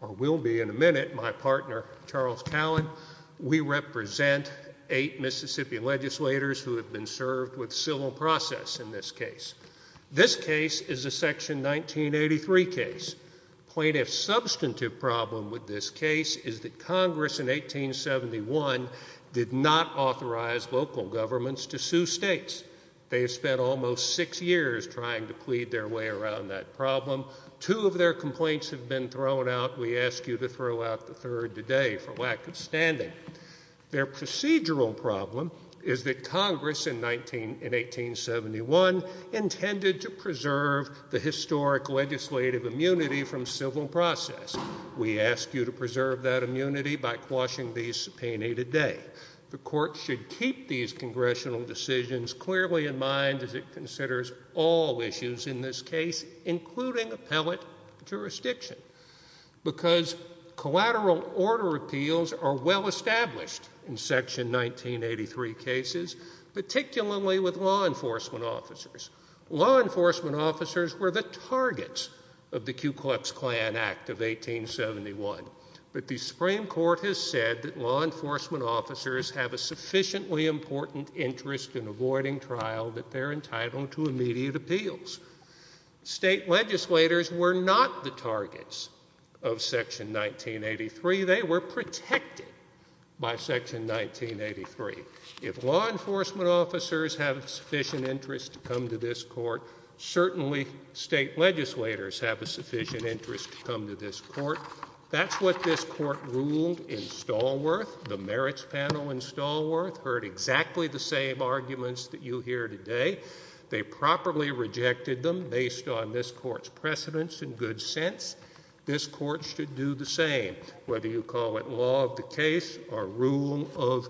or will be in a minute, my partner, Charles Callen. We represent eight Mississippian legislators who have been served with civil process in this case. This case is a section 1983 case. Plaintiff's substantive problem with this case is that Congress in 1871 did not authorize local governments to sue states. They have spent almost six years trying to plead their way around that problem. Two of their complaints have been thrown out. We ask you to throw out the third today for lack of standing. Their procedural problem is that Congress in 1871 intended to preserve the historic legislative immunity from civil process. We ask you to preserve that immunity by quashing the subpoena today. The court should keep these congressional decisions clearly in mind as it considers all issues in this case, including appellate jurisdiction, because collateral order appeals are well established in section 1983 cases, particularly with law enforcement officers. Law enforcement officers were the targets of the Ku Klux Klan Act of 1871, but the Supreme Court has said that law enforcement officers have a sufficiently important interest in avoiding trial that they're entitled to immediate appeals. State legislators were not the targets of section 1983. They were protected by section 1983. If law enforcement officers have a sufficient interest to come to this court, certainly state legislators have a sufficient interest to come to this court. That's what this court ruled in Stallworth. The merits panel in Stallworth heard exactly the same arguments that you hear today. They properly rejected them based on this court's precedents and good sense. This court should do the same, whether you call it law of the case or rule of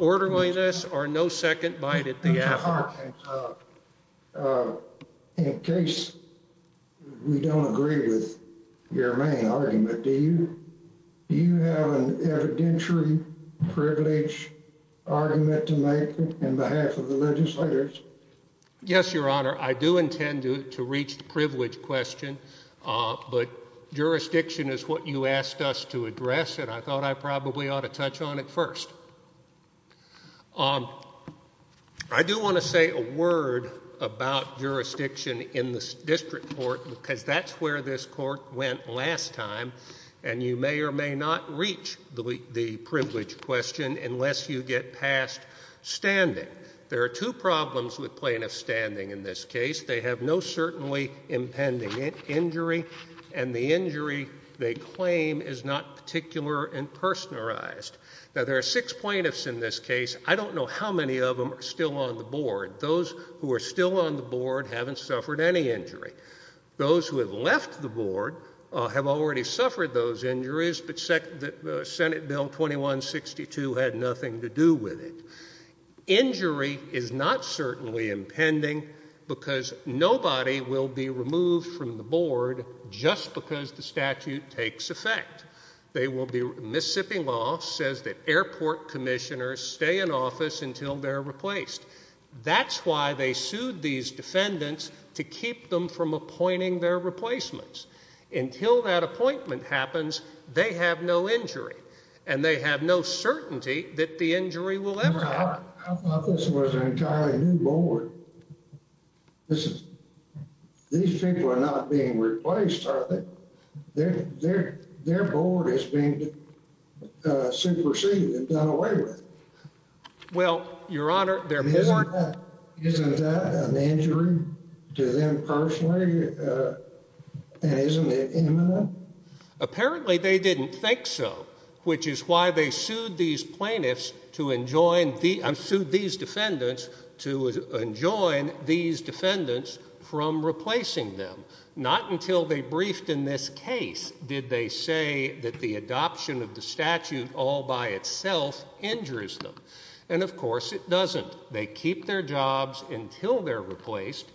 orderliness or no second bite at the apple. Your Honor, in case we don't agree with your main argument, do you have an evidentiary privilege argument to make on behalf of the legislators? Yes, Your Honor. I do intend to reach the privilege question, but jurisdiction is what you asked us to address, and I thought I probably ought to touch on it first. I do want to say a word about jurisdiction in the district court because that's where this court went last time, and you may or may not reach the privilege question unless you get past standing. There are two problems with plaintiff standing in this case. They have no certainly impending injury, and the injury they claim is not particular and personalized. Now, there are six plaintiffs in this case. I don't know how many of them are still on the board. Those who are still on the board haven't suffered any injury. Those who have left the board have already suffered those injuries, but Senate Bill 2162 had nothing to do with it. Injury is not certainly impending because nobody will be removed from the board just because the statute takes effect. Mississippi law says that airport commissioners stay in office until they're replaced. That's why they sued these defendants to keep them from appointing their replacements. Until that appointment happens, they have no injury, and they have no certainty that the injury will ever happen. I thought this was an entirely new board. These people are not being replaced, are they? Their board has been superseded and done away with. Well, Your Honor, their board... Isn't that an injury to them personally, and isn't it imminent? Apparently, they didn't think so, which is why they sued these defendants to enjoin these And in what case did they say that the adoption of the statute all by itself injures them? And, of course, it doesn't. They keep their jobs until they're replaced,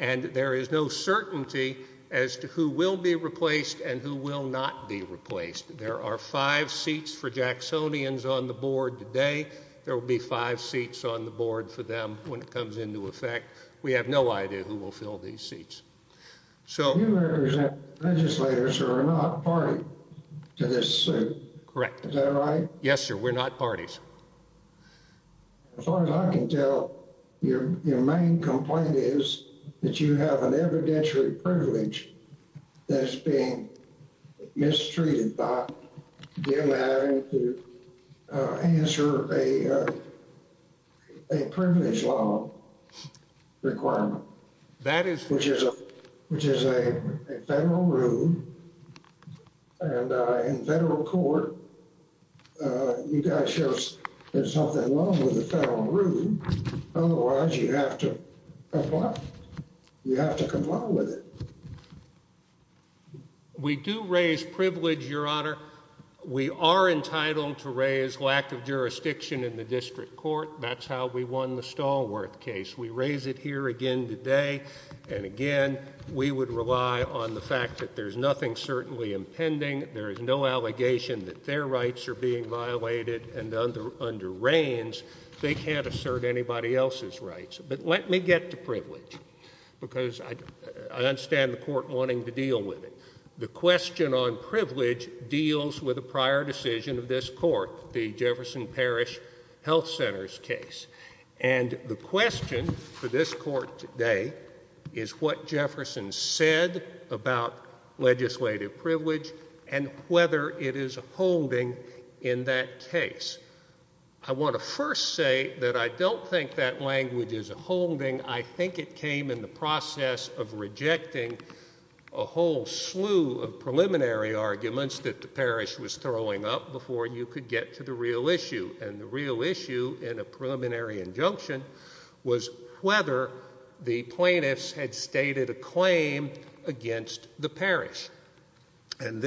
and there is no certainty as to who will be replaced and who will not be replaced. There are five seats for Jacksonians on the board today. There will be five seats on the board for them when it comes into effect. We have no idea who will fill these seats. You represent legislators who are not party to this suit. Correct. Is that right? Yes, sir. We're not parties. As far as I can tell, your main complaint is that you have an evidentiary privilege that is being mistreated by them having to answer a privilege law requirement, which is a federal rule. And in federal court, you've got to show there's something wrong with the federal rule. Otherwise, you have to comply. You have to comply with it. We do raise privilege, Your Honor. We are entitled to raise lack of jurisdiction in the district court. That's how we won the Stallworth case. We raise it here again today and again. We would rely on the fact that there's nothing certainly impending. There is no allegation that their rights are being violated and under reins. They can't assert anybody else's rights. But let me get to privilege because I understand the court wanting to deal with it. The question on privilege deals with a prior decision of this court, the Jefferson Parish Health Centers case. And the question for this court today is what Jefferson said about legislative privilege and whether it is a holding in that case. I want to first say that I don't think that language is a holding. I think it came in the process of rejecting a whole slew of preliminary arguments that the parish was throwing up before you could get to the real issue. And the real issue in a preliminary injunction was whether the plaintiffs had stated a claim against the parish. And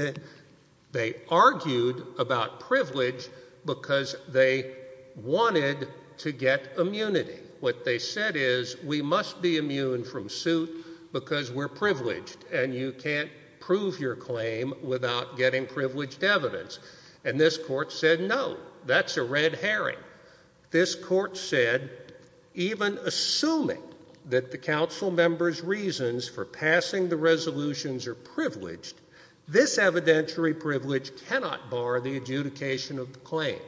they argued about privilege because they wanted to get immunity. What they said is we must be immune from suit because we're privileged and you can't prove your claim without getting privileged evidence. And this court said no, that's a red herring. This court said even assuming that the council members' reasons for passing the resolutions are privileged, this evidentiary privilege cannot bar the adjudication of the claim.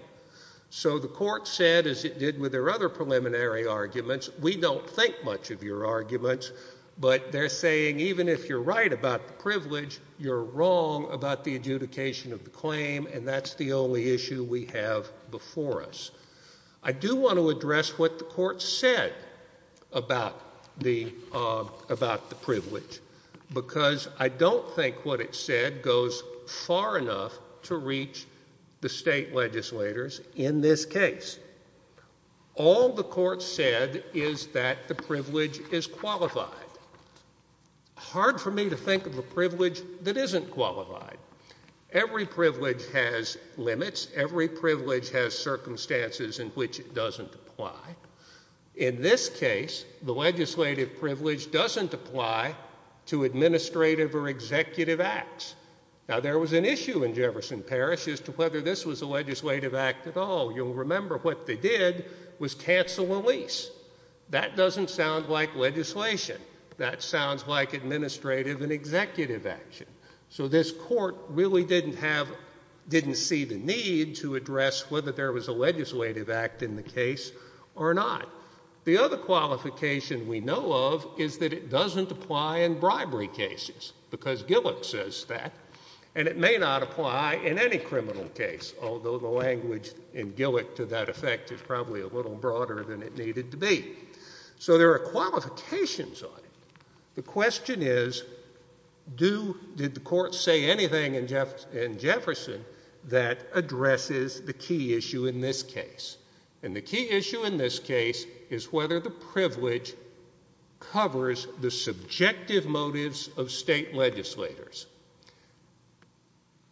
So the court said, as it did with their other preliminary arguments, we don't think much of your arguments, but they're saying even if you're right about the privilege, you're wrong about the adjudication of the claim and that's the only issue we have before us. I do want to address what the court said about the privilege because I don't think what it said goes far enough to reach the state legislators in this case. All the court said is that the privilege is qualified. Hard for me to think of a privilege that isn't qualified. Every privilege has limits. Every privilege has circumstances in which it doesn't apply. In this case, the legislative privilege doesn't apply to administrative or executive acts. Now, there was an issue in Jefferson Parish as to whether this was a legislative act at all. You'll remember what they did was cancel a lease. That doesn't sound like legislation. That sounds like administrative and executive action. So this court really didn't see the need to address whether there was a legislative act in the case or not. The other qualification we know of is that it doesn't apply in bribery cases because Gillick says that and it may not apply in any criminal case, although the language in Gillick to that effect is probably a little broader than it needed to be. So there are qualifications on it. The question is, did the court say anything in Jefferson that addresses the key issue in this case? And the key issue in this case is whether the privilege covers the subjective motives of state legislators.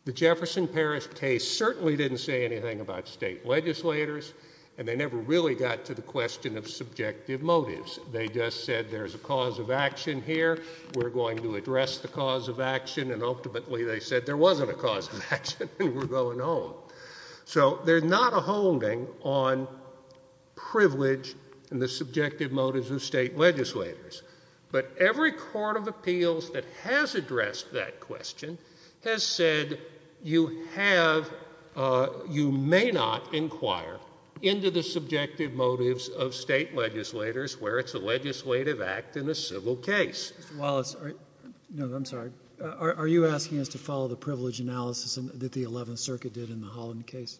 The Jefferson Parish case certainly didn't say anything about state legislators, and they never really got to the question of subjective motives. They just said there's a cause of action here, we're going to address the cause of action, and ultimately they said there wasn't a cause of action and we're going home. So there's not a holding on privilege and the subjective motives of state legislators. But every court of appeals that has addressed that question has said you have, you may not inquire into the subjective motives of state legislators where it's a legislative act in a civil case. Mr. Wallace, no, I'm sorry. Are you asking us to follow the privilege analysis that the Eleventh Circuit did in the Holland case?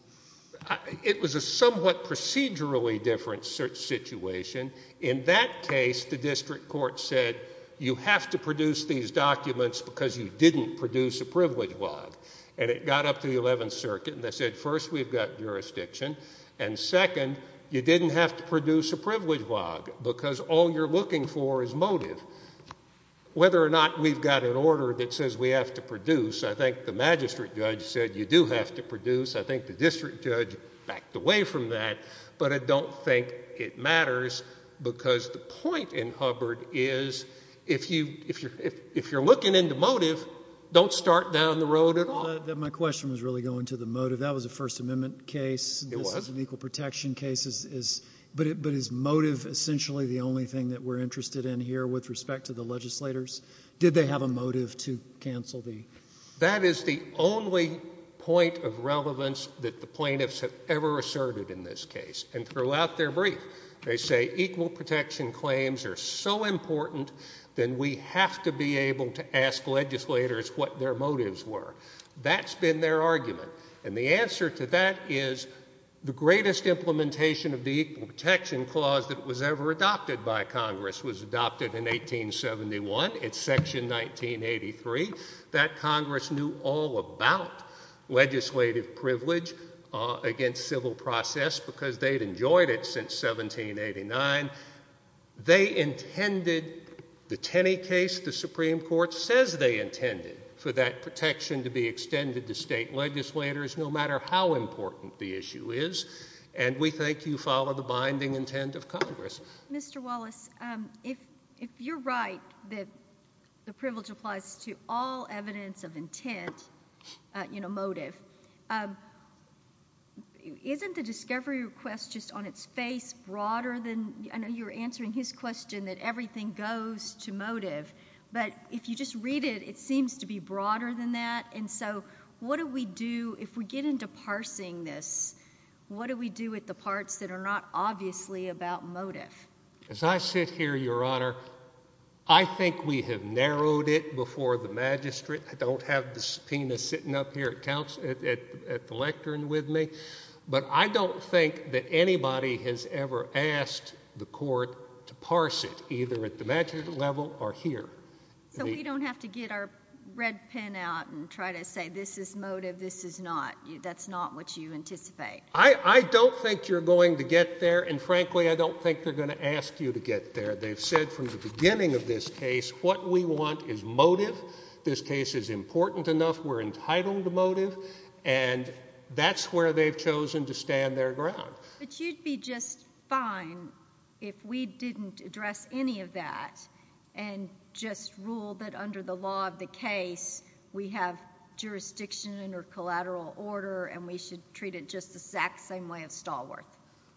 It was a somewhat procedurally different situation. In that case, the district court said you have to produce these documents because you didn't produce a privilege log. And it got up to the Eleventh Circuit and they said first we've got jurisdiction, and second, you didn't have to produce a privilege log because all you're looking for is motive. Whether or not we've got an order that says we have to produce, I think the magistrate judge said you do have to produce. I think the district judge backed away from that. But I don't think it matters because the point in Hubbard is if you're looking into motive, don't start down the road at all. My question was really going to the motive. That was a First Amendment case. It was. It was an equal protection case. But is motive essentially the only thing that we're interested in here with respect to the legislators? Did they have a motive to cancel the... That is the only point of relevance that the plaintiffs have ever asserted in this case. And throughout their brief, they say equal protection claims are so important that we have to be able to ask legislators what their motives were. That's been their argument. And the answer to that is the greatest implementation of the equal protection clause that was ever adopted by Congress was adopted in 1871. It's Section 1983. That Congress knew all about legislative privilege against civil process because they'd enjoyed it since 1789. They intended the Tenney case, the Supreme Court says they intended for that protection to be extended to state legislators no matter how important the issue is. And we think you follow the binding intent of Congress. Mr. Wallace, if you're right that the privilege applies to all evidence of intent, you know, motive, isn't the discovery request just on its face broader than... I know you were answering his question that everything goes to motive. But if you just read it, it seems to be broader than that. And so what do we do if we get into parsing this? What do we do with the parts that are not obviously about motive? As I sit here, Your Honor, I think we have narrowed it before the magistrate. I don't have the subpoena sitting up here at the lectern with me. But I don't think that anybody has ever asked the court to parse it, either at the magistrate level or here. So we don't have to get our red pen out and try to say this is motive, this is not. That's not what you anticipate. I don't think you're going to get there. And frankly, I don't think they're going to ask you to get there. They've said from the beginning of this case, what we want is motive. This case is important enough. We're entitled to motive. And that's where they've chosen to stand their ground. But you'd be just fine if we didn't address any of that and just ruled that under the law of the case, we have jurisdiction under collateral order and we should treat it just the exact same way as Stallworth.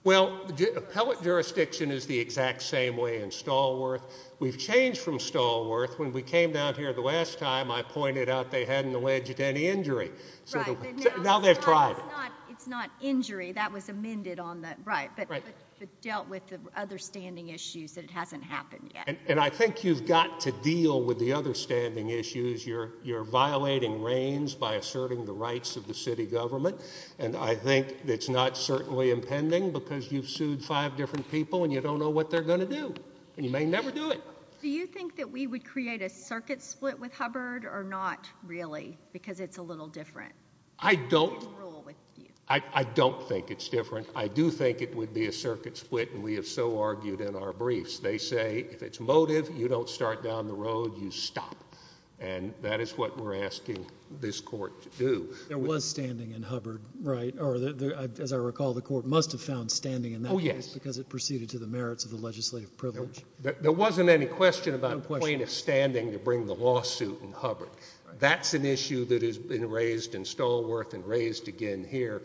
Well, appellate jurisdiction is the exact same way in Stallworth. We've changed from Stallworth. When we came down here the last time, I pointed out they hadn't alleged any injury. Right. Now they've tried it. It's not injury. That was amended on the right. But it dealt with the other standing issues that it hasn't happened yet. And I think you've got to deal with the other standing issues. You're violating reins by asserting the rights of the city government. And I think it's not certainly impending because you've sued five different people and you don't know what they're going to do. And you may never do it. Do you think that we would create a circuit split with Hubbard or not really because it's a little different? I don't. I don't think it's different. I do think it would be a circuit split, and we have so argued in our briefs. They say if it's motive, you don't start down the road, you stop. And that is what we're asking this court to do. There was standing in Hubbard, right? Or as I recall, the court must have found standing in that case because it proceeded to the merits of the legislative privilege. There wasn't any question about the point of standing to bring the lawsuit in Hubbard. That's an issue that has been raised in Stallworth and raised again here.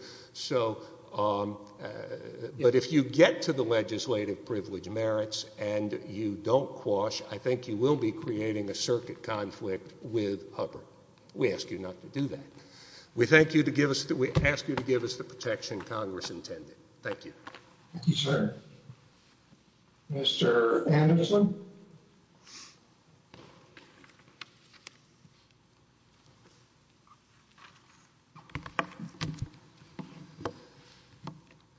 But if you get to the legislative privilege merits and you don't quash, I think you will be creating a circuit conflict with Hubbard. We ask you not to do that. We ask you to give us the protection Congress intended. Thank you. Thank you, sir. Mr. Anderson?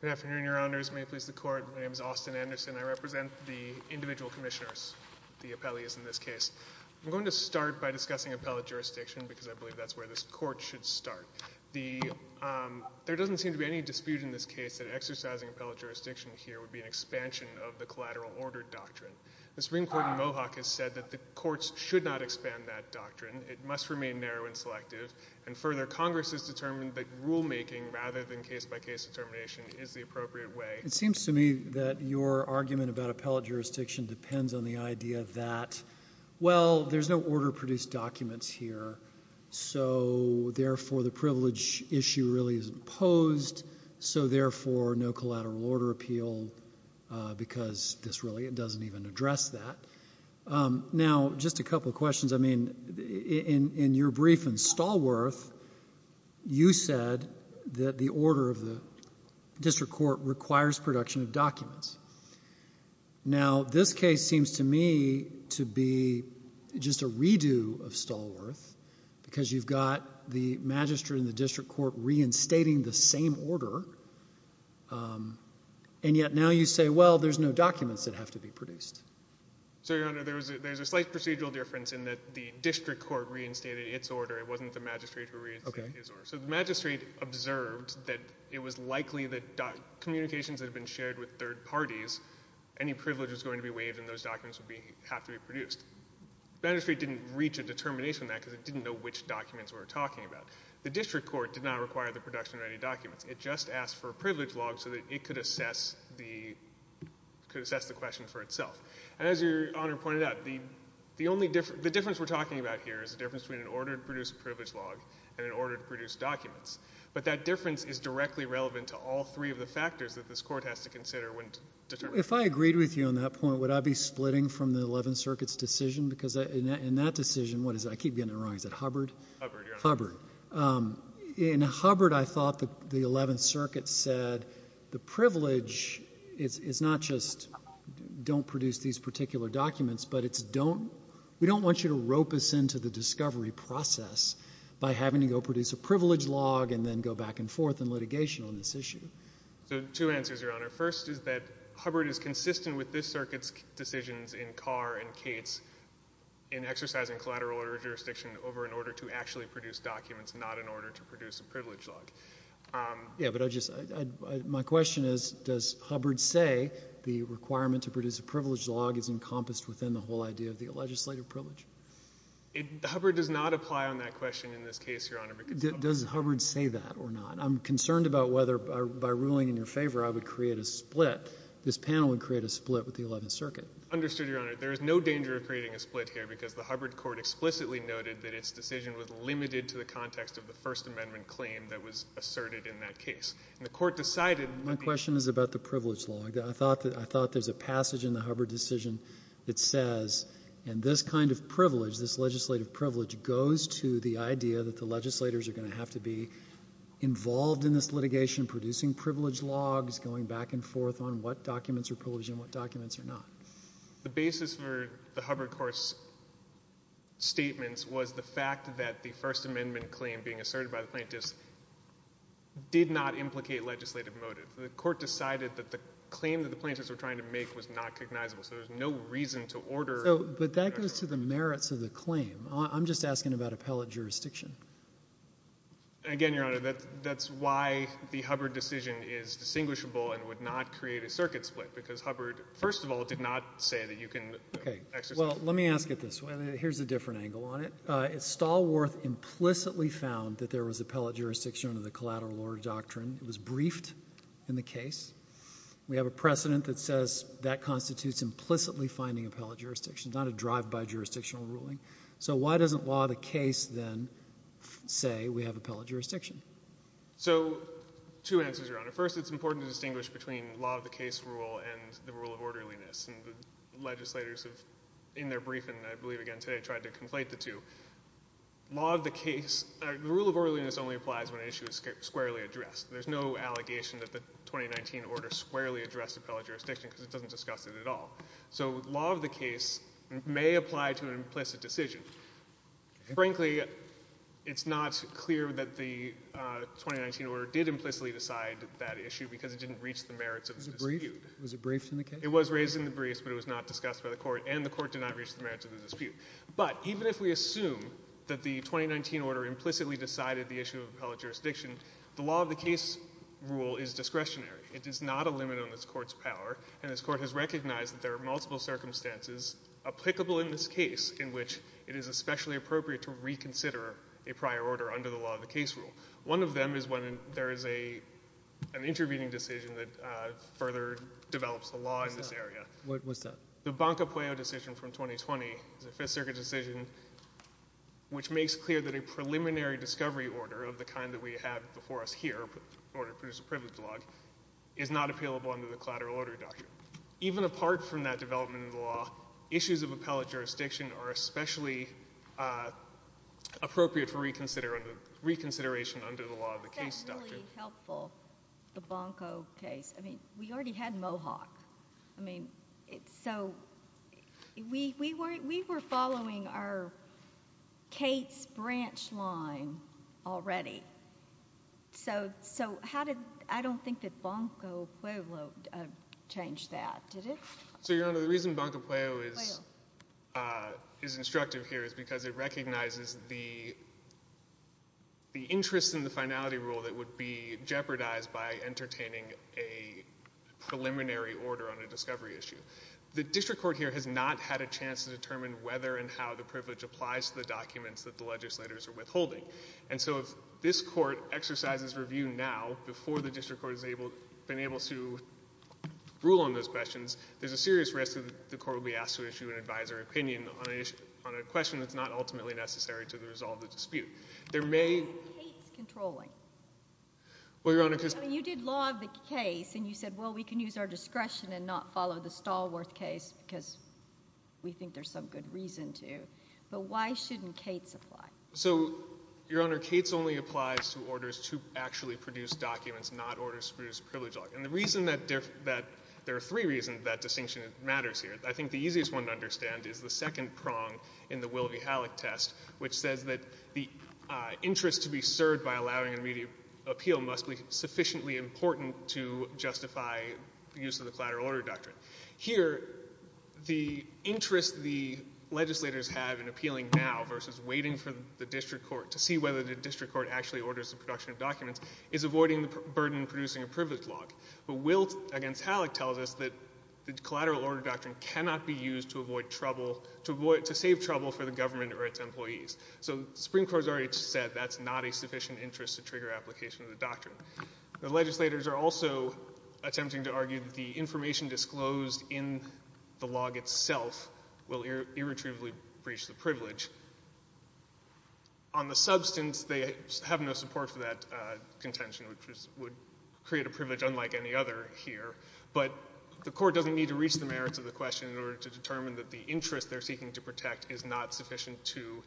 Good afternoon, Your Honors. May it please the Court. My name is Austin Anderson. I represent the individual commissioners, the appellees in this case. I'm going to start by discussing appellate jurisdiction because I believe that's where this court should start. There doesn't seem to be any dispute in this case that exercising appellate jurisdiction here would be an expansion of the collateral order doctrine. The Supreme Court in Mohawk has said that the courts should not expand that doctrine. It must remain narrow and selective. And further, Congress has determined that rulemaking rather than case-by-case determination is the appropriate way. It seems to me that your argument about appellate jurisdiction depends on the idea that, well, there's no order-produced documents here, so therefore the privilege issue really isn't opposed, so therefore no collateral order appeal because this really doesn't even address that. Now, just a couple of questions. I mean, in your brief in Stallworth, you said that the order of the district court requires production of documents. Now, this case seems to me to be just a redo of Stallworth because you've got the magistrate and the district court reinstating the same order, and yet now you say, well, there's no documents that have to be produced. So, Your Honor, there's a slight procedural difference in that the district court reinstated its order. It wasn't the magistrate who reinstated his order. So the magistrate observed that it was likely that communications that had been shared with third parties, any privilege was going to be waived and those documents would have to be produced. The magistrate didn't reach a determination on that because it didn't know which documents we were talking about. The district court did not require the production of any documents. It just asked for a privilege log so that it could assess the question for itself. And as Your Honor pointed out, the difference we're talking about here is the difference between an order to produce a privilege log and an order to produce documents. But that difference is directly relevant to all three of the factors that this court has to consider when determining. If I agreed with you on that point, would I be splitting from the Eleventh Circuit's decision? Because in that decision, what is it? I keep getting it wrong. Is it Hubbard? Hubbard, Your Honor. Hubbard. In Hubbard, I thought the Eleventh Circuit said the privilege is not just don't produce these particular documents, but it's don't, we don't want you to rope us into the discovery process by having to go produce a privilege log and then go back and forth in litigation on this issue. So two answers, Your Honor. First is that Hubbard is consistent with this circuit's decisions in Carr and Cates in exercising collateral order jurisdiction over an order to actually produce documents, not an order to produce a privilege log. Yeah, but I just, my question is, does Hubbard say the requirement to produce a privilege log is encompassed within the whole idea of the legislative privilege? Hubbard does not apply on that question in this case, Your Honor. Does Hubbard say that or not? I'm concerned about whether by ruling in your favor, I would create a split. This panel would create a split with the Eleventh Circuit. Understood, Your Honor. There is no danger of creating a split here because the Hubbard court explicitly noted that its decision was limited to the context of the First Amendment claim that was asserted in that case. And the court decided that the— My question is about the privilege log. I thought there's a passage in the Hubbard decision that says, and this kind of privilege, this legislative privilege, goes to the idea that the legislators are going to have to be involved in this litigation, producing privilege logs, going back and forth on what documents are privileged and what documents are not. The basis for the Hubbard court's statements was the fact that the First Amendment claim being asserted by the plaintiffs did not implicate legislative motive. The court decided that the claim that the plaintiffs were trying to make was not recognizable. So there's no reason to order— But that goes to the merits of the claim. I'm just asking about appellate jurisdiction. Again, Your Honor, that's why the Hubbard decision is distinguishable and would not say that you can exercise— Okay. Well, let me ask it this way. Here's a different angle on it. Stallworth implicitly found that there was appellate jurisdiction under the collateral order doctrine. It was briefed in the case. We have a precedent that says that constitutes implicitly finding appellate jurisdiction, not a drive-by jurisdictional ruling. So why doesn't law of the case then say we have appellate jurisdiction? So two answers, Your Honor. First, it's important to distinguish between law of the case rule and the rule of orderliness. And the legislators have, in their briefing, I believe, again today, tried to conflate the two. Law of the case—the rule of orderliness only applies when an issue is squarely addressed. There's no allegation that the 2019 order squarely addressed appellate jurisdiction because it doesn't discuss it at all. So law of the case may apply to an implicit decision. Frankly, it's not clear that the 2019 order did implicitly decide that issue because it didn't reach the merits of the dispute. Was it briefed in the case? It was raised in the briefs, but it was not discussed by the court. And the court did not reach the merits of the dispute. But even if we assume that the 2019 order implicitly decided the issue of appellate jurisdiction, the law of the case rule is discretionary. It is not a limit on this court's power. And this court has recognized that there are multiple circumstances applicable in this case where it is especially appropriate to reconsider a prior order under the law of the case rule. One of them is when there is an intervening decision that further develops the law in this area. What's that? The Banca Pueo decision from 2020, the Fifth Circuit decision, which makes clear that a preliminary discovery order of the kind that we have before us here, the order to produce a privileged log, is not appealable under the collateral order doctrine. And even apart from that development of the law, issues of appellate jurisdiction are especially appropriate for reconsideration under the law of the case doctrine. Isn't that really helpful, the Banco case? I mean, we already had Mohawk. I mean, so we were following our case branch line already. So how did — I don't think that Banco Pueo changed that, did it? So, Your Honor, the reason Banco Pueo is instructive here is because it recognizes the interest in the finality rule that would be jeopardized by entertaining a preliminary order on a discovery issue. The district court here has not had a chance to determine whether and how the privilege applies to the documents that the legislators are withholding. And so if this court exercises review now, before the district court has been able to rule on those questions, there's a serious risk that the court will be asked to issue an advisory opinion on a question that's not ultimately necessary to resolve the dispute. There may — Why isn't Cates controlling? Well, Your Honor, because — I mean, you did law of the case, and you said, well, we can use our discretion and not follow the Stallworth case because we think there's some good reason to. But why shouldn't Cates apply? So, Your Honor, Cates only applies to orders to actually produce documents, not orders to produce a privilege law. And the reason that — there are three reasons that distinction matters here. I think the easiest one to understand is the second prong in the Will v. Halleck test, which says that the interest to be served by allowing an immediate appeal must be sufficiently important to justify the use of the collateral order doctrine. Here, the interest the legislators have in appealing now versus waiting for the district court to see whether the district court actually orders the production of documents is avoiding the burden of producing a privilege law. But Will v. Halleck tells us that the collateral order doctrine cannot be used to avoid trouble — to save trouble for the government or its employees. So the Supreme Court has already said that's not a sufficient interest to trigger application of the doctrine. The legislators are also attempting to argue that the information disclosed in the log itself will irretrievably breach the privilege. On the substance, they have no support for that contention, which would create a privilege unlike any other here. But the court doesn't need to reach the merits of the question in order to determine that the interest they're seeking to protect is not sufficient to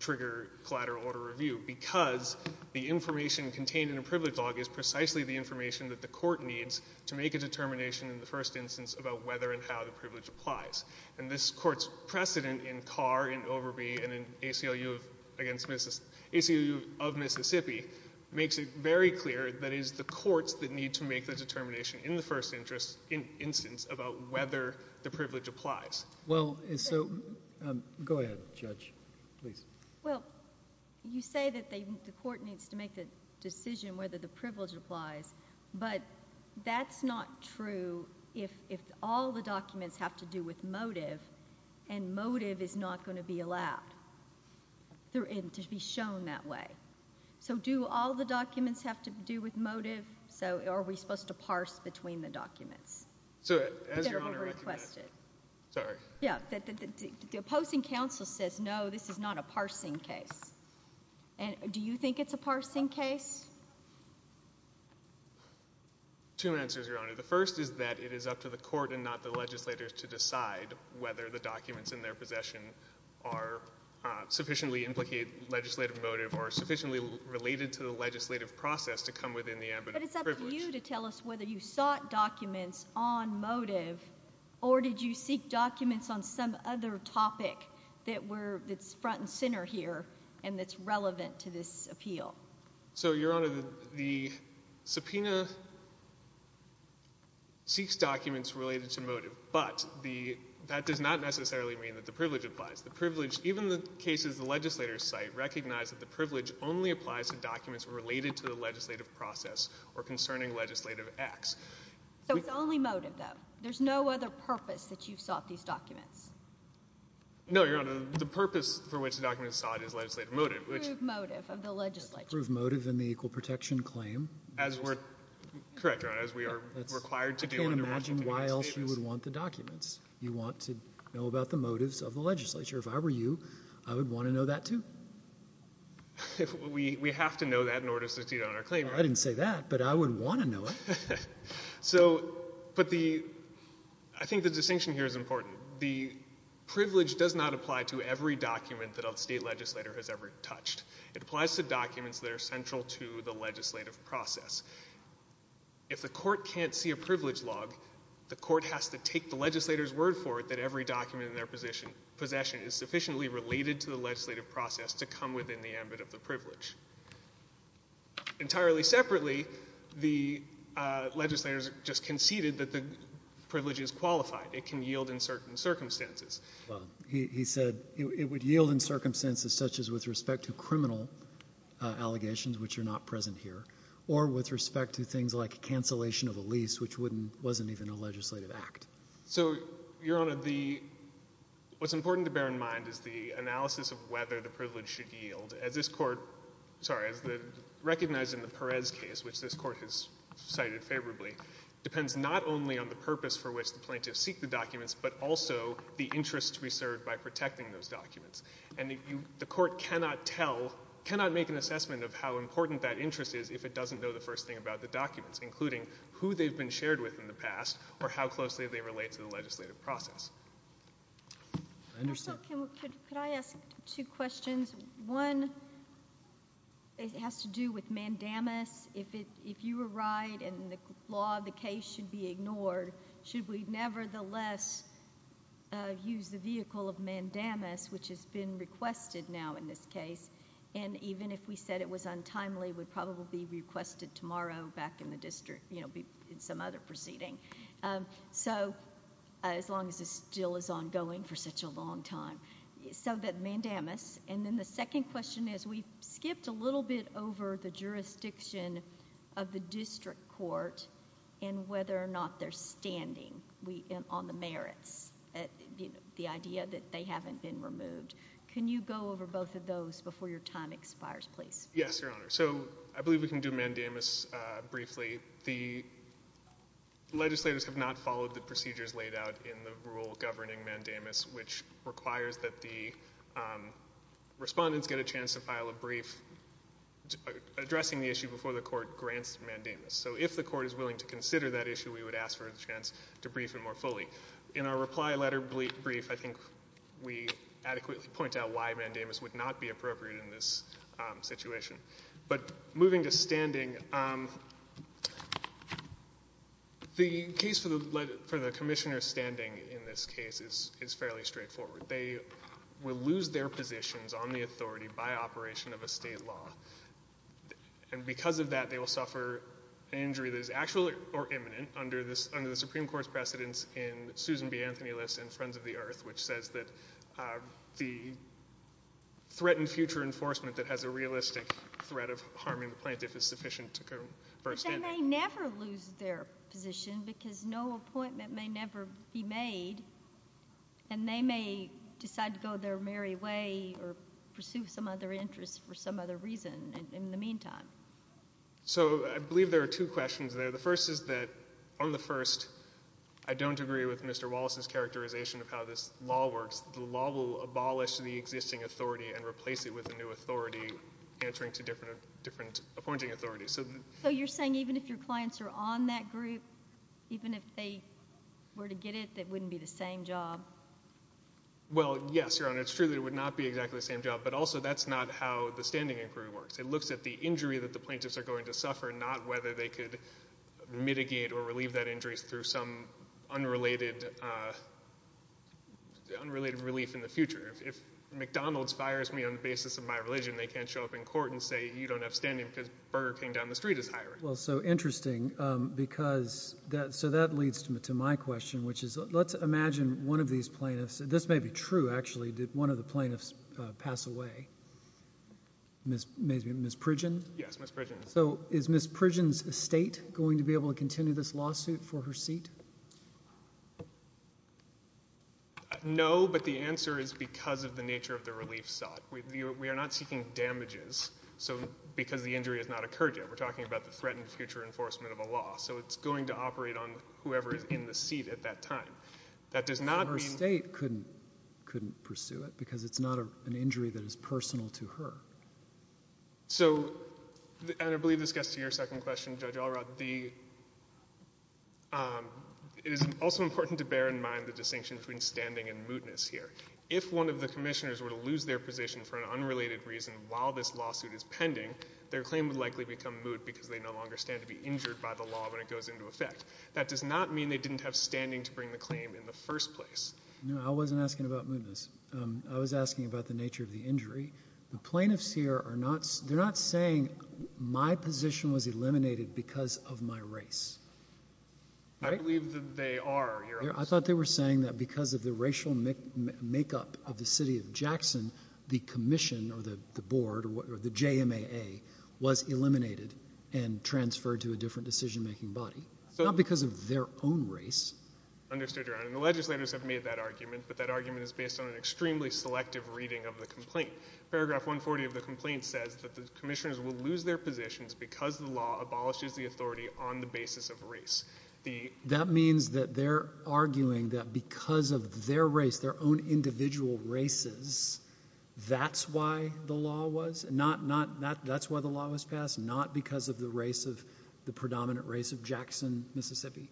trigger collateral order review because the information contained in a privilege log is precisely the information that the court needs to make a determination in the first instance about whether and how the privilege applies. And this Court's precedent in Carr, in Overby, and in ACLU of Mississippi makes it very clear that it is the courts that need to make the determination in the first instance about whether the privilege applies. Well, so go ahead, Judge. Please. Well, you say that the court needs to make the decision whether the privilege applies, but that's not true if all the documents have to do with motive and motive is not going to be allowed to be shown that way. So do all the documents have to do with motive? So are we supposed to parse between the documents? So as Your Honor recommended— They're overrequested. Sorry. Yeah. The opposing counsel says, no, this is not a parsing case. Do you think it's a parsing case? Two answers, Your Honor. The first is that it is up to the court and not the legislators to decide whether the documents in their possession sufficiently implicate legislative motive or are sufficiently related to the legislative process to come within the ambit of the privilege. So it's up to you to tell us whether you sought documents on motive or did you seek documents on some other topic that's front and center here and that's relevant to this appeal. So, Your Honor, the subpoena seeks documents related to motive, but that does not necessarily mean that the privilege applies. Even the cases the legislators cite recognize that the privilege only applies to documents related to the legislative process or concerning legislative acts. So it's only motive, though? There's no other purpose that you've sought these documents? No, Your Honor. The purpose for which the documents are sought is legislative motive, which— Prove motive of the legislature. Prove motive in the equal protection claim. As we're—correct, Your Honor, as we are required to do— I can't imagine why else you would want the documents. You want to know about the motives of the legislature. If I were you, I would want to know that, too. We have to know that in order to succeed on our claim. I didn't say that, but I would want to know it. So, but the—I think the distinction here is important. The privilege does not apply to every document that a state legislator has ever touched. It applies to documents that are central to the legislative process. If the court can't see a privilege log, the court has to take the legislator's word for it that every document in their possession is sufficiently related to the legislative process to come within the ambit of the privilege. Entirely separately, the legislators just conceded that the privilege is qualified. It can yield in certain circumstances. He said it would yield in circumstances such as with respect to criminal allegations, which are not present here, or with respect to things like cancellation of a lease, which wasn't even a legislative act. So, Your Honor, the—what's important to bear in mind is the analysis of whether the privilege should yield. As this court—sorry, as recognized in the Perez case, which this court has cited favorably, depends not only on the purpose for which the plaintiffs seek the documents, but also the interest we serve by protecting those documents. And the court cannot tell—cannot make an assessment of how important that interest is including who they've been shared with in the past or how closely they relate to the legislative process. I understand. Could I ask two questions? One has to do with mandamus. If you were right and the law of the case should be ignored, should we nevertheless use the vehicle of mandamus, which has been requested now in this case, and even if we said it was untimely, would probably be requested tomorrow back in the district, you know, in some other proceeding? So, as long as this still is ongoing for such a long time. So, that mandamus. And then the second question is, we skipped a little bit over the jurisdiction of the district court and whether or not they're standing on the merits, the idea that they haven't been removed. Can you go over both of those before your time expires, please? Yes, Your Honor. So, I believe we can do mandamus briefly. The legislators have not followed the procedures laid out in the rule governing mandamus, which requires that the respondents get a chance to file a brief addressing the issue before the court grants mandamus. So, if the court is willing to consider that issue, we would ask for a chance to brief it more fully. In our reply letter brief, I think we adequately point out why mandamus would not be appropriate in this situation. But moving to standing, the case for the commissioner standing in this case is fairly straightforward. They will lose their positions on the authority by operation of a state law. And because of that, they will suffer an injury that is actual or imminent under the Supreme Court's precedence in Susan B. Anthony List and Friends of the Earth, which says that the threat in future enforcement that has a realistic threat of harming the plaintiff is sufficient to go first standing. But they may never lose their position because no appointment may never be made, and they may decide to go their merry way or pursue some other interest for some other reason in the meantime. So, I believe there are two questions there. The first is that on the first, I don't agree with Mr. Wallace's characterization of how this law works. The law will abolish the existing authority and replace it with a new authority, answering to different appointing authorities. So you're saying even if your clients are on that group, even if they were to get it, it wouldn't be the same job? Well, yes, Your Honor. It's true that it would not be exactly the same job, but also that's not how the standing inquiry works. It looks at the injury that the plaintiffs are going to suffer, not whether they could mitigate or relieve that injury through some unrelated relief in the future. If McDonald's fires me on the basis of my religion, they can't show up in court and say, you don't have standing because Burger King down the street is hiring. Well, so interesting because that leads to my question, which is let's imagine one of these plaintiffs. This may be true, actually. Did one of the plaintiffs pass away? Ms. Pridgen? Yes, Ms. Pridgen. So is Ms. Pridgen's estate going to be able to continue this lawsuit for her seat? No, but the answer is because of the nature of the relief sought. We are not seeking damages because the injury has not occurred yet. We're talking about the threat and future enforcement of a law. So it's going to operate on whoever is in the seat at that time. That does not mean — Her estate couldn't pursue it because it's not an injury that is personal to her. So, and I believe this gets to your second question, Judge Allrott. It is also important to bear in mind the distinction between standing and mootness here. If one of the commissioners were to lose their position for an unrelated reason while this lawsuit is pending, their claim would likely become moot because they no longer stand to be injured by the law when it goes into effect. That does not mean they didn't have standing to bring the claim in the first place. No, I wasn't asking about mootness. I was asking about the nature of the injury. The plaintiffs here are not saying my position was eliminated because of my race. I believe that they are, Your Honor. I thought they were saying that because of the racial makeup of the city of Jackson, the commission or the board or the JMAA was eliminated and transferred to a different decision-making body, not because of their own race. Understood, Your Honor. And the legislators have made that argument, but that argument is based on an extremely selective reading of the complaint. Paragraph 140 of the complaint says that the commissioners will lose their positions because the law abolishes the authority on the basis of race. That means that they're arguing that because of their race, their own individual races, that's why the law was passed, not because of the race of the predominant race of Jackson, Mississippi?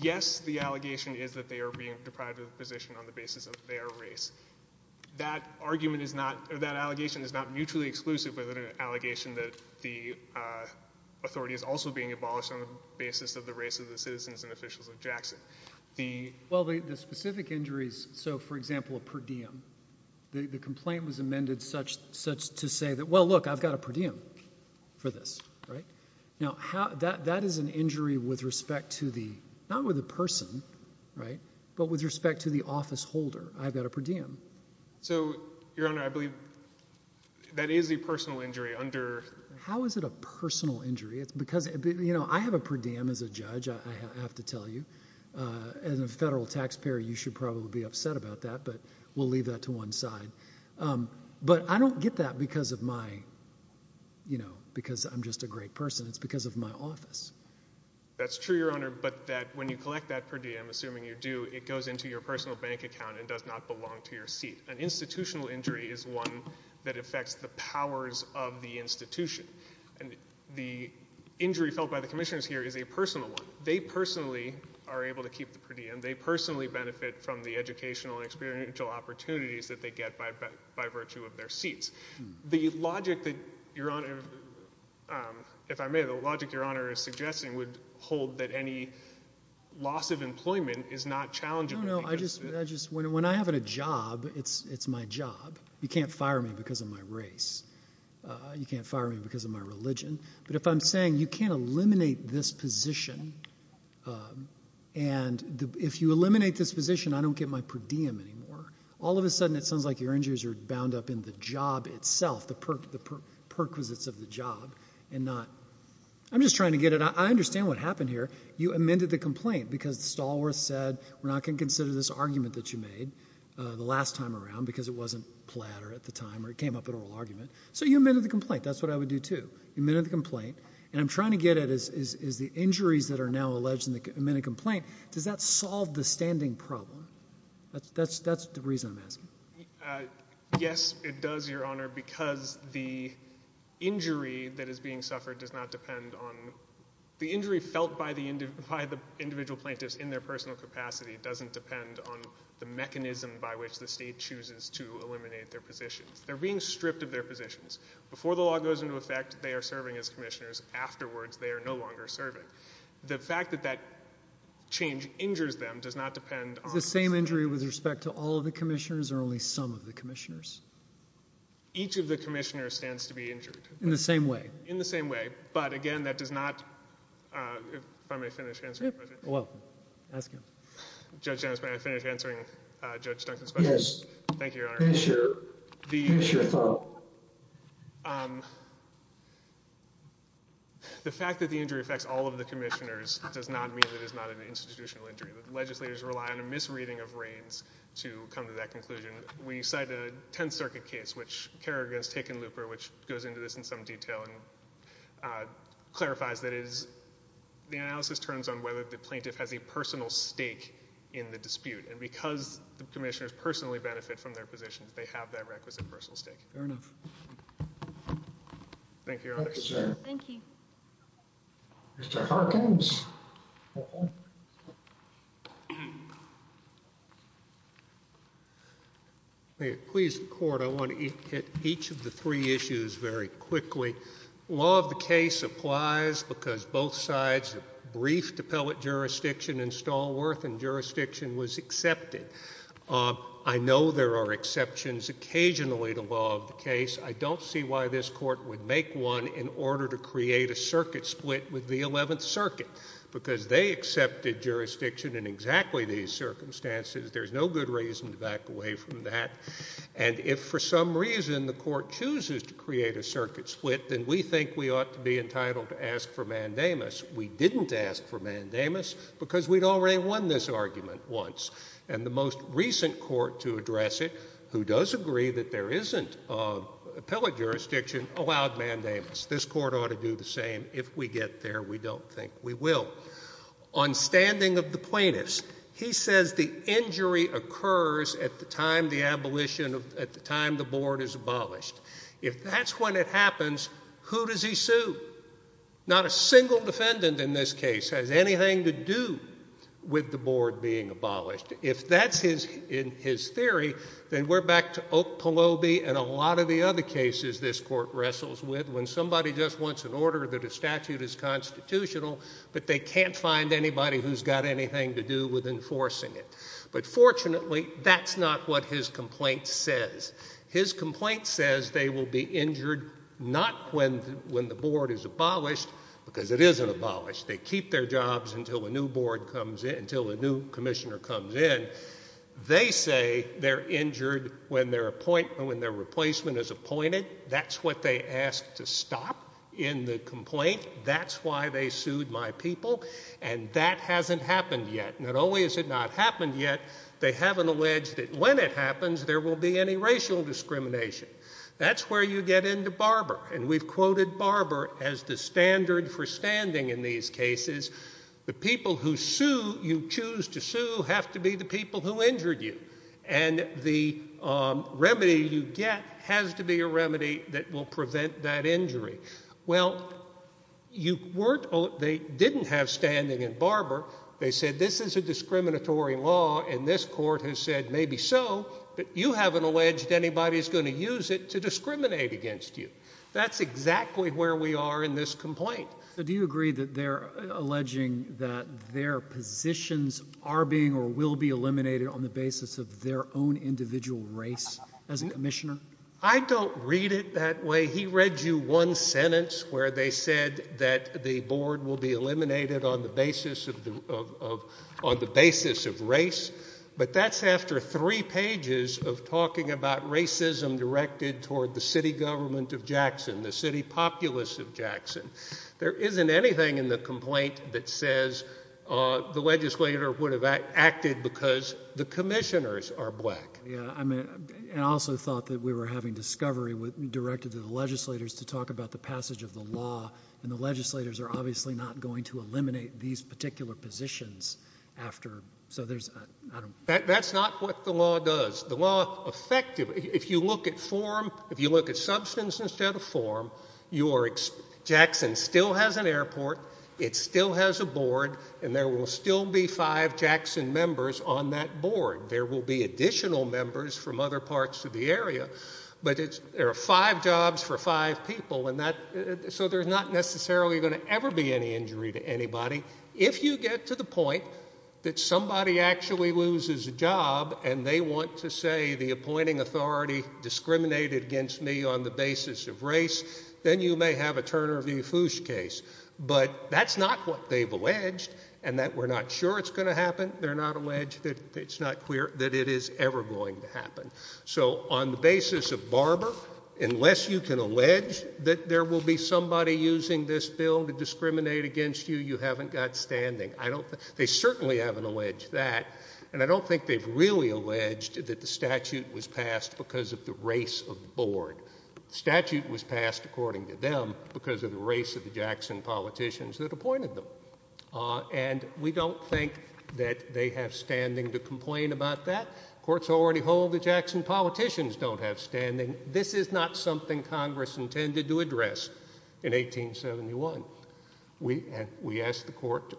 Yes, the allegation is that they are being deprived of the position on the basis of their race. That argument is not, or that allegation is not mutually exclusive with an allegation that the authority is also being abolished on the basis of the race of the citizens and officials of Jackson. Well, the specific injuries, so, for example, a per diem, the complaint was amended such to say that, well, look, I've got a per diem for this, right? Now, that is an injury with respect to the, not with a person, right, but with respect to the office holder. I've got a per diem. So, Your Honor, I believe that is a personal injury under— How is it a personal injury? It's because, you know, I have a per diem as a judge, I have to tell you. As a federal taxpayer, you should probably be upset about that, but we'll leave that to one side. But I don't get that because of my, you know, because I'm just a great person. It's because of my office. That's true, Your Honor, but that when you collect that per diem, assuming you do, it goes into your personal bank account and does not belong to your seat. An institutional injury is one that affects the powers of the institution. And the injury felt by the commissioners here is a personal one. They personally are able to keep the per diem. They personally benefit from the educational and experiential opportunities that they get by virtue of their seats. The logic that Your Honor, if I may, the logic Your Honor is suggesting would hold that any loss of employment is not challenging. No, no. When I have a job, it's my job. You can't fire me because of my race. You can't fire me because of my religion. But if I'm saying you can't eliminate this position, and if you eliminate this position, I don't get my per diem anymore. All of a sudden it sounds like your injuries are bound up in the job itself, the perquisites of the job. I'm just trying to get it. I understand what happened here. You amended the complaint because Stallworth said we're not going to consider this argument that you made the last time around because it wasn't platter at the time or it came up at oral argument. So you amended the complaint. That's what I would do too. You amended the complaint, and I'm trying to get at is the injuries that are now alleged in the amended complaint, does that solve the standing problem? That's the reason I'm asking. Yes, it does, Your Honor, because the injury that is being suffered does not depend on the injury felt by the individual plaintiffs in their personal capacity doesn't depend on the mechanism by which the state chooses to eliminate their positions. They're being stripped of their positions. Before the law goes into effect, they are serving as commissioners. Afterwards, they are no longer serving. The fact that that change injures them does not depend on Is the same injury with respect to all of the commissioners or only some of the commissioners? Each of the commissioners stands to be injured. In the same way? In the same way, but again, that does not If I may finish answering. You're welcome. Ask him. Judge, may I finish answering Judge Duncan's question? Yes. Thank you, Your Honor. Finish your thought. The fact that the injury affects all of the commissioners does not mean that it is not an institutional injury. Legislators rely on a misreading of raids to come to that conclusion. We cite a Tenth Circuit case, which Kerrigan has taken looper, which goes into this in some detail and clarifies that it is The analysis turns on whether the plaintiff has a personal stake in the dispute. And because the commissioners personally benefit from their positions, they have that requisite personal stake. Fair enough. Thank you, Your Honor. Thank you, sir. Thank you. Mr. Hawkins. May it please the court, I want to hit each of the three issues very quickly. Law of the case applies because both sides have briefed appellate jurisdiction and Stallworth and jurisdiction was accepted. I know there are exceptions occasionally to law of the case. I don't see why this court would make one in order to create a circuit split with the Eleventh Circuit. Because they accepted jurisdiction in exactly these circumstances. There's no good reason to back away from that. And if for some reason the court chooses to create a circuit split, then we think we ought to be entitled to ask for mandamus. We didn't ask for mandamus because we'd already won this argument once. And the most recent court to address it, who does agree that there isn't appellate jurisdiction, allowed mandamus. This court ought to do the same. If we get there, we don't think we will. On standing of the plaintiffs, he says the injury occurs at the time the board is abolished. If that's when it happens, who does he sue? Not a single defendant in this case has anything to do with the board being abolished. If that's in his theory, then we're back to Oak Peloby and a lot of the other cases this court wrestles with when somebody just wants an order that a statute is constitutional, but they can't find anybody who's got anything to do with enforcing it. But fortunately, that's not what his complaint says. His complaint says they will be injured not when the board is abolished, because it isn't abolished. They keep their jobs until a new board comes in, until a new commissioner comes in. They say they're injured when their replacement is appointed. That's what they asked to stop in the complaint. That's why they sued my people. And that hasn't happened yet. Not only has it not happened yet, they haven't alleged that when it happens, there will be any racial discrimination. That's where you get into Barber. And we've quoted Barber as the standard for standing in these cases. The people who sue, you choose to sue, have to be the people who injured you. And the remedy you get has to be a remedy that will prevent that injury. Well, they didn't have standing in Barber. They said this is a discriminatory law, and this court has said maybe so, but you haven't alleged anybody's going to use it to discriminate against you. That's exactly where we are in this complaint. So do you agree that they're alleging that their positions are being or will be eliminated on the basis of their own individual race as a commissioner? I don't read it that way. He read you one sentence where they said that the board will be eliminated on the basis of race, but that's after three pages of talking about racism directed toward the city government of Jackson, the city populace of Jackson. There isn't anything in the complaint that says the legislator would have acted because the commissioners are black. I also thought that we were having discovery directed to the legislators to talk about the passage of the law, and the legislators are obviously not going to eliminate these particular positions after. That's not what the law does. The law effectively, if you look at form, if you look at substance instead of form, Jackson still has an airport, it still has a board, and there will still be five Jackson members on that board. There will be additional members from other parts of the area, but there are five jobs for five people, so there's not necessarily going to ever be any injury to anybody. If you get to the point that somebody actually loses a job, and they want to say the appointing authority discriminated against me on the basis of race, then you may have a Turner v. Foosh case. But that's not what they've alleged, and we're not sure it's going to happen. They're not alleged that it's not clear that it is ever going to happen. So on the basis of Barber, unless you can allege that there will be somebody using this bill to discriminate against you, you haven't got standing. They certainly haven't alleged that, and I don't think they've really alleged that the statute was passed because of the race of the board. The statute was passed, according to them, because of the race of the Jackson politicians that appointed them. And we don't think that they have standing to complain about that. Courts already hold that Jackson politicians don't have standing. This is not something Congress intended to address in 1871. We ask the Court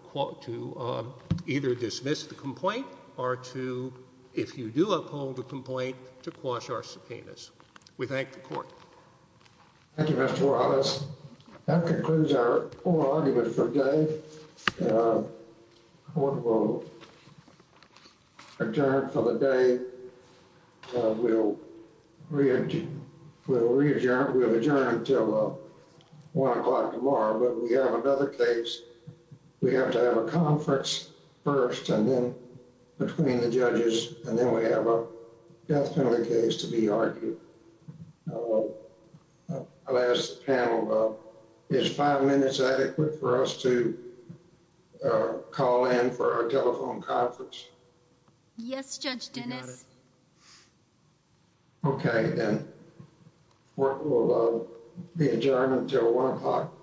to either dismiss the complaint or to, if you do uphold the complaint, to quash our subpoenas. We thank the Court. Thank you, Mr. Horowitz. That concludes our oral argument for today. The Court will adjourn for the day. We'll re-adjourn. We'll adjourn until 1 o'clock tomorrow, but we have another case. We have to have a conference first and then between the judges, and then we have a death penalty case to be argued. I'll ask the panel, is five minutes adequate for us to call in for our telephone conference? Yes, Judge Dennis. Okay, then. The Court will adjourn until 1 o'clock.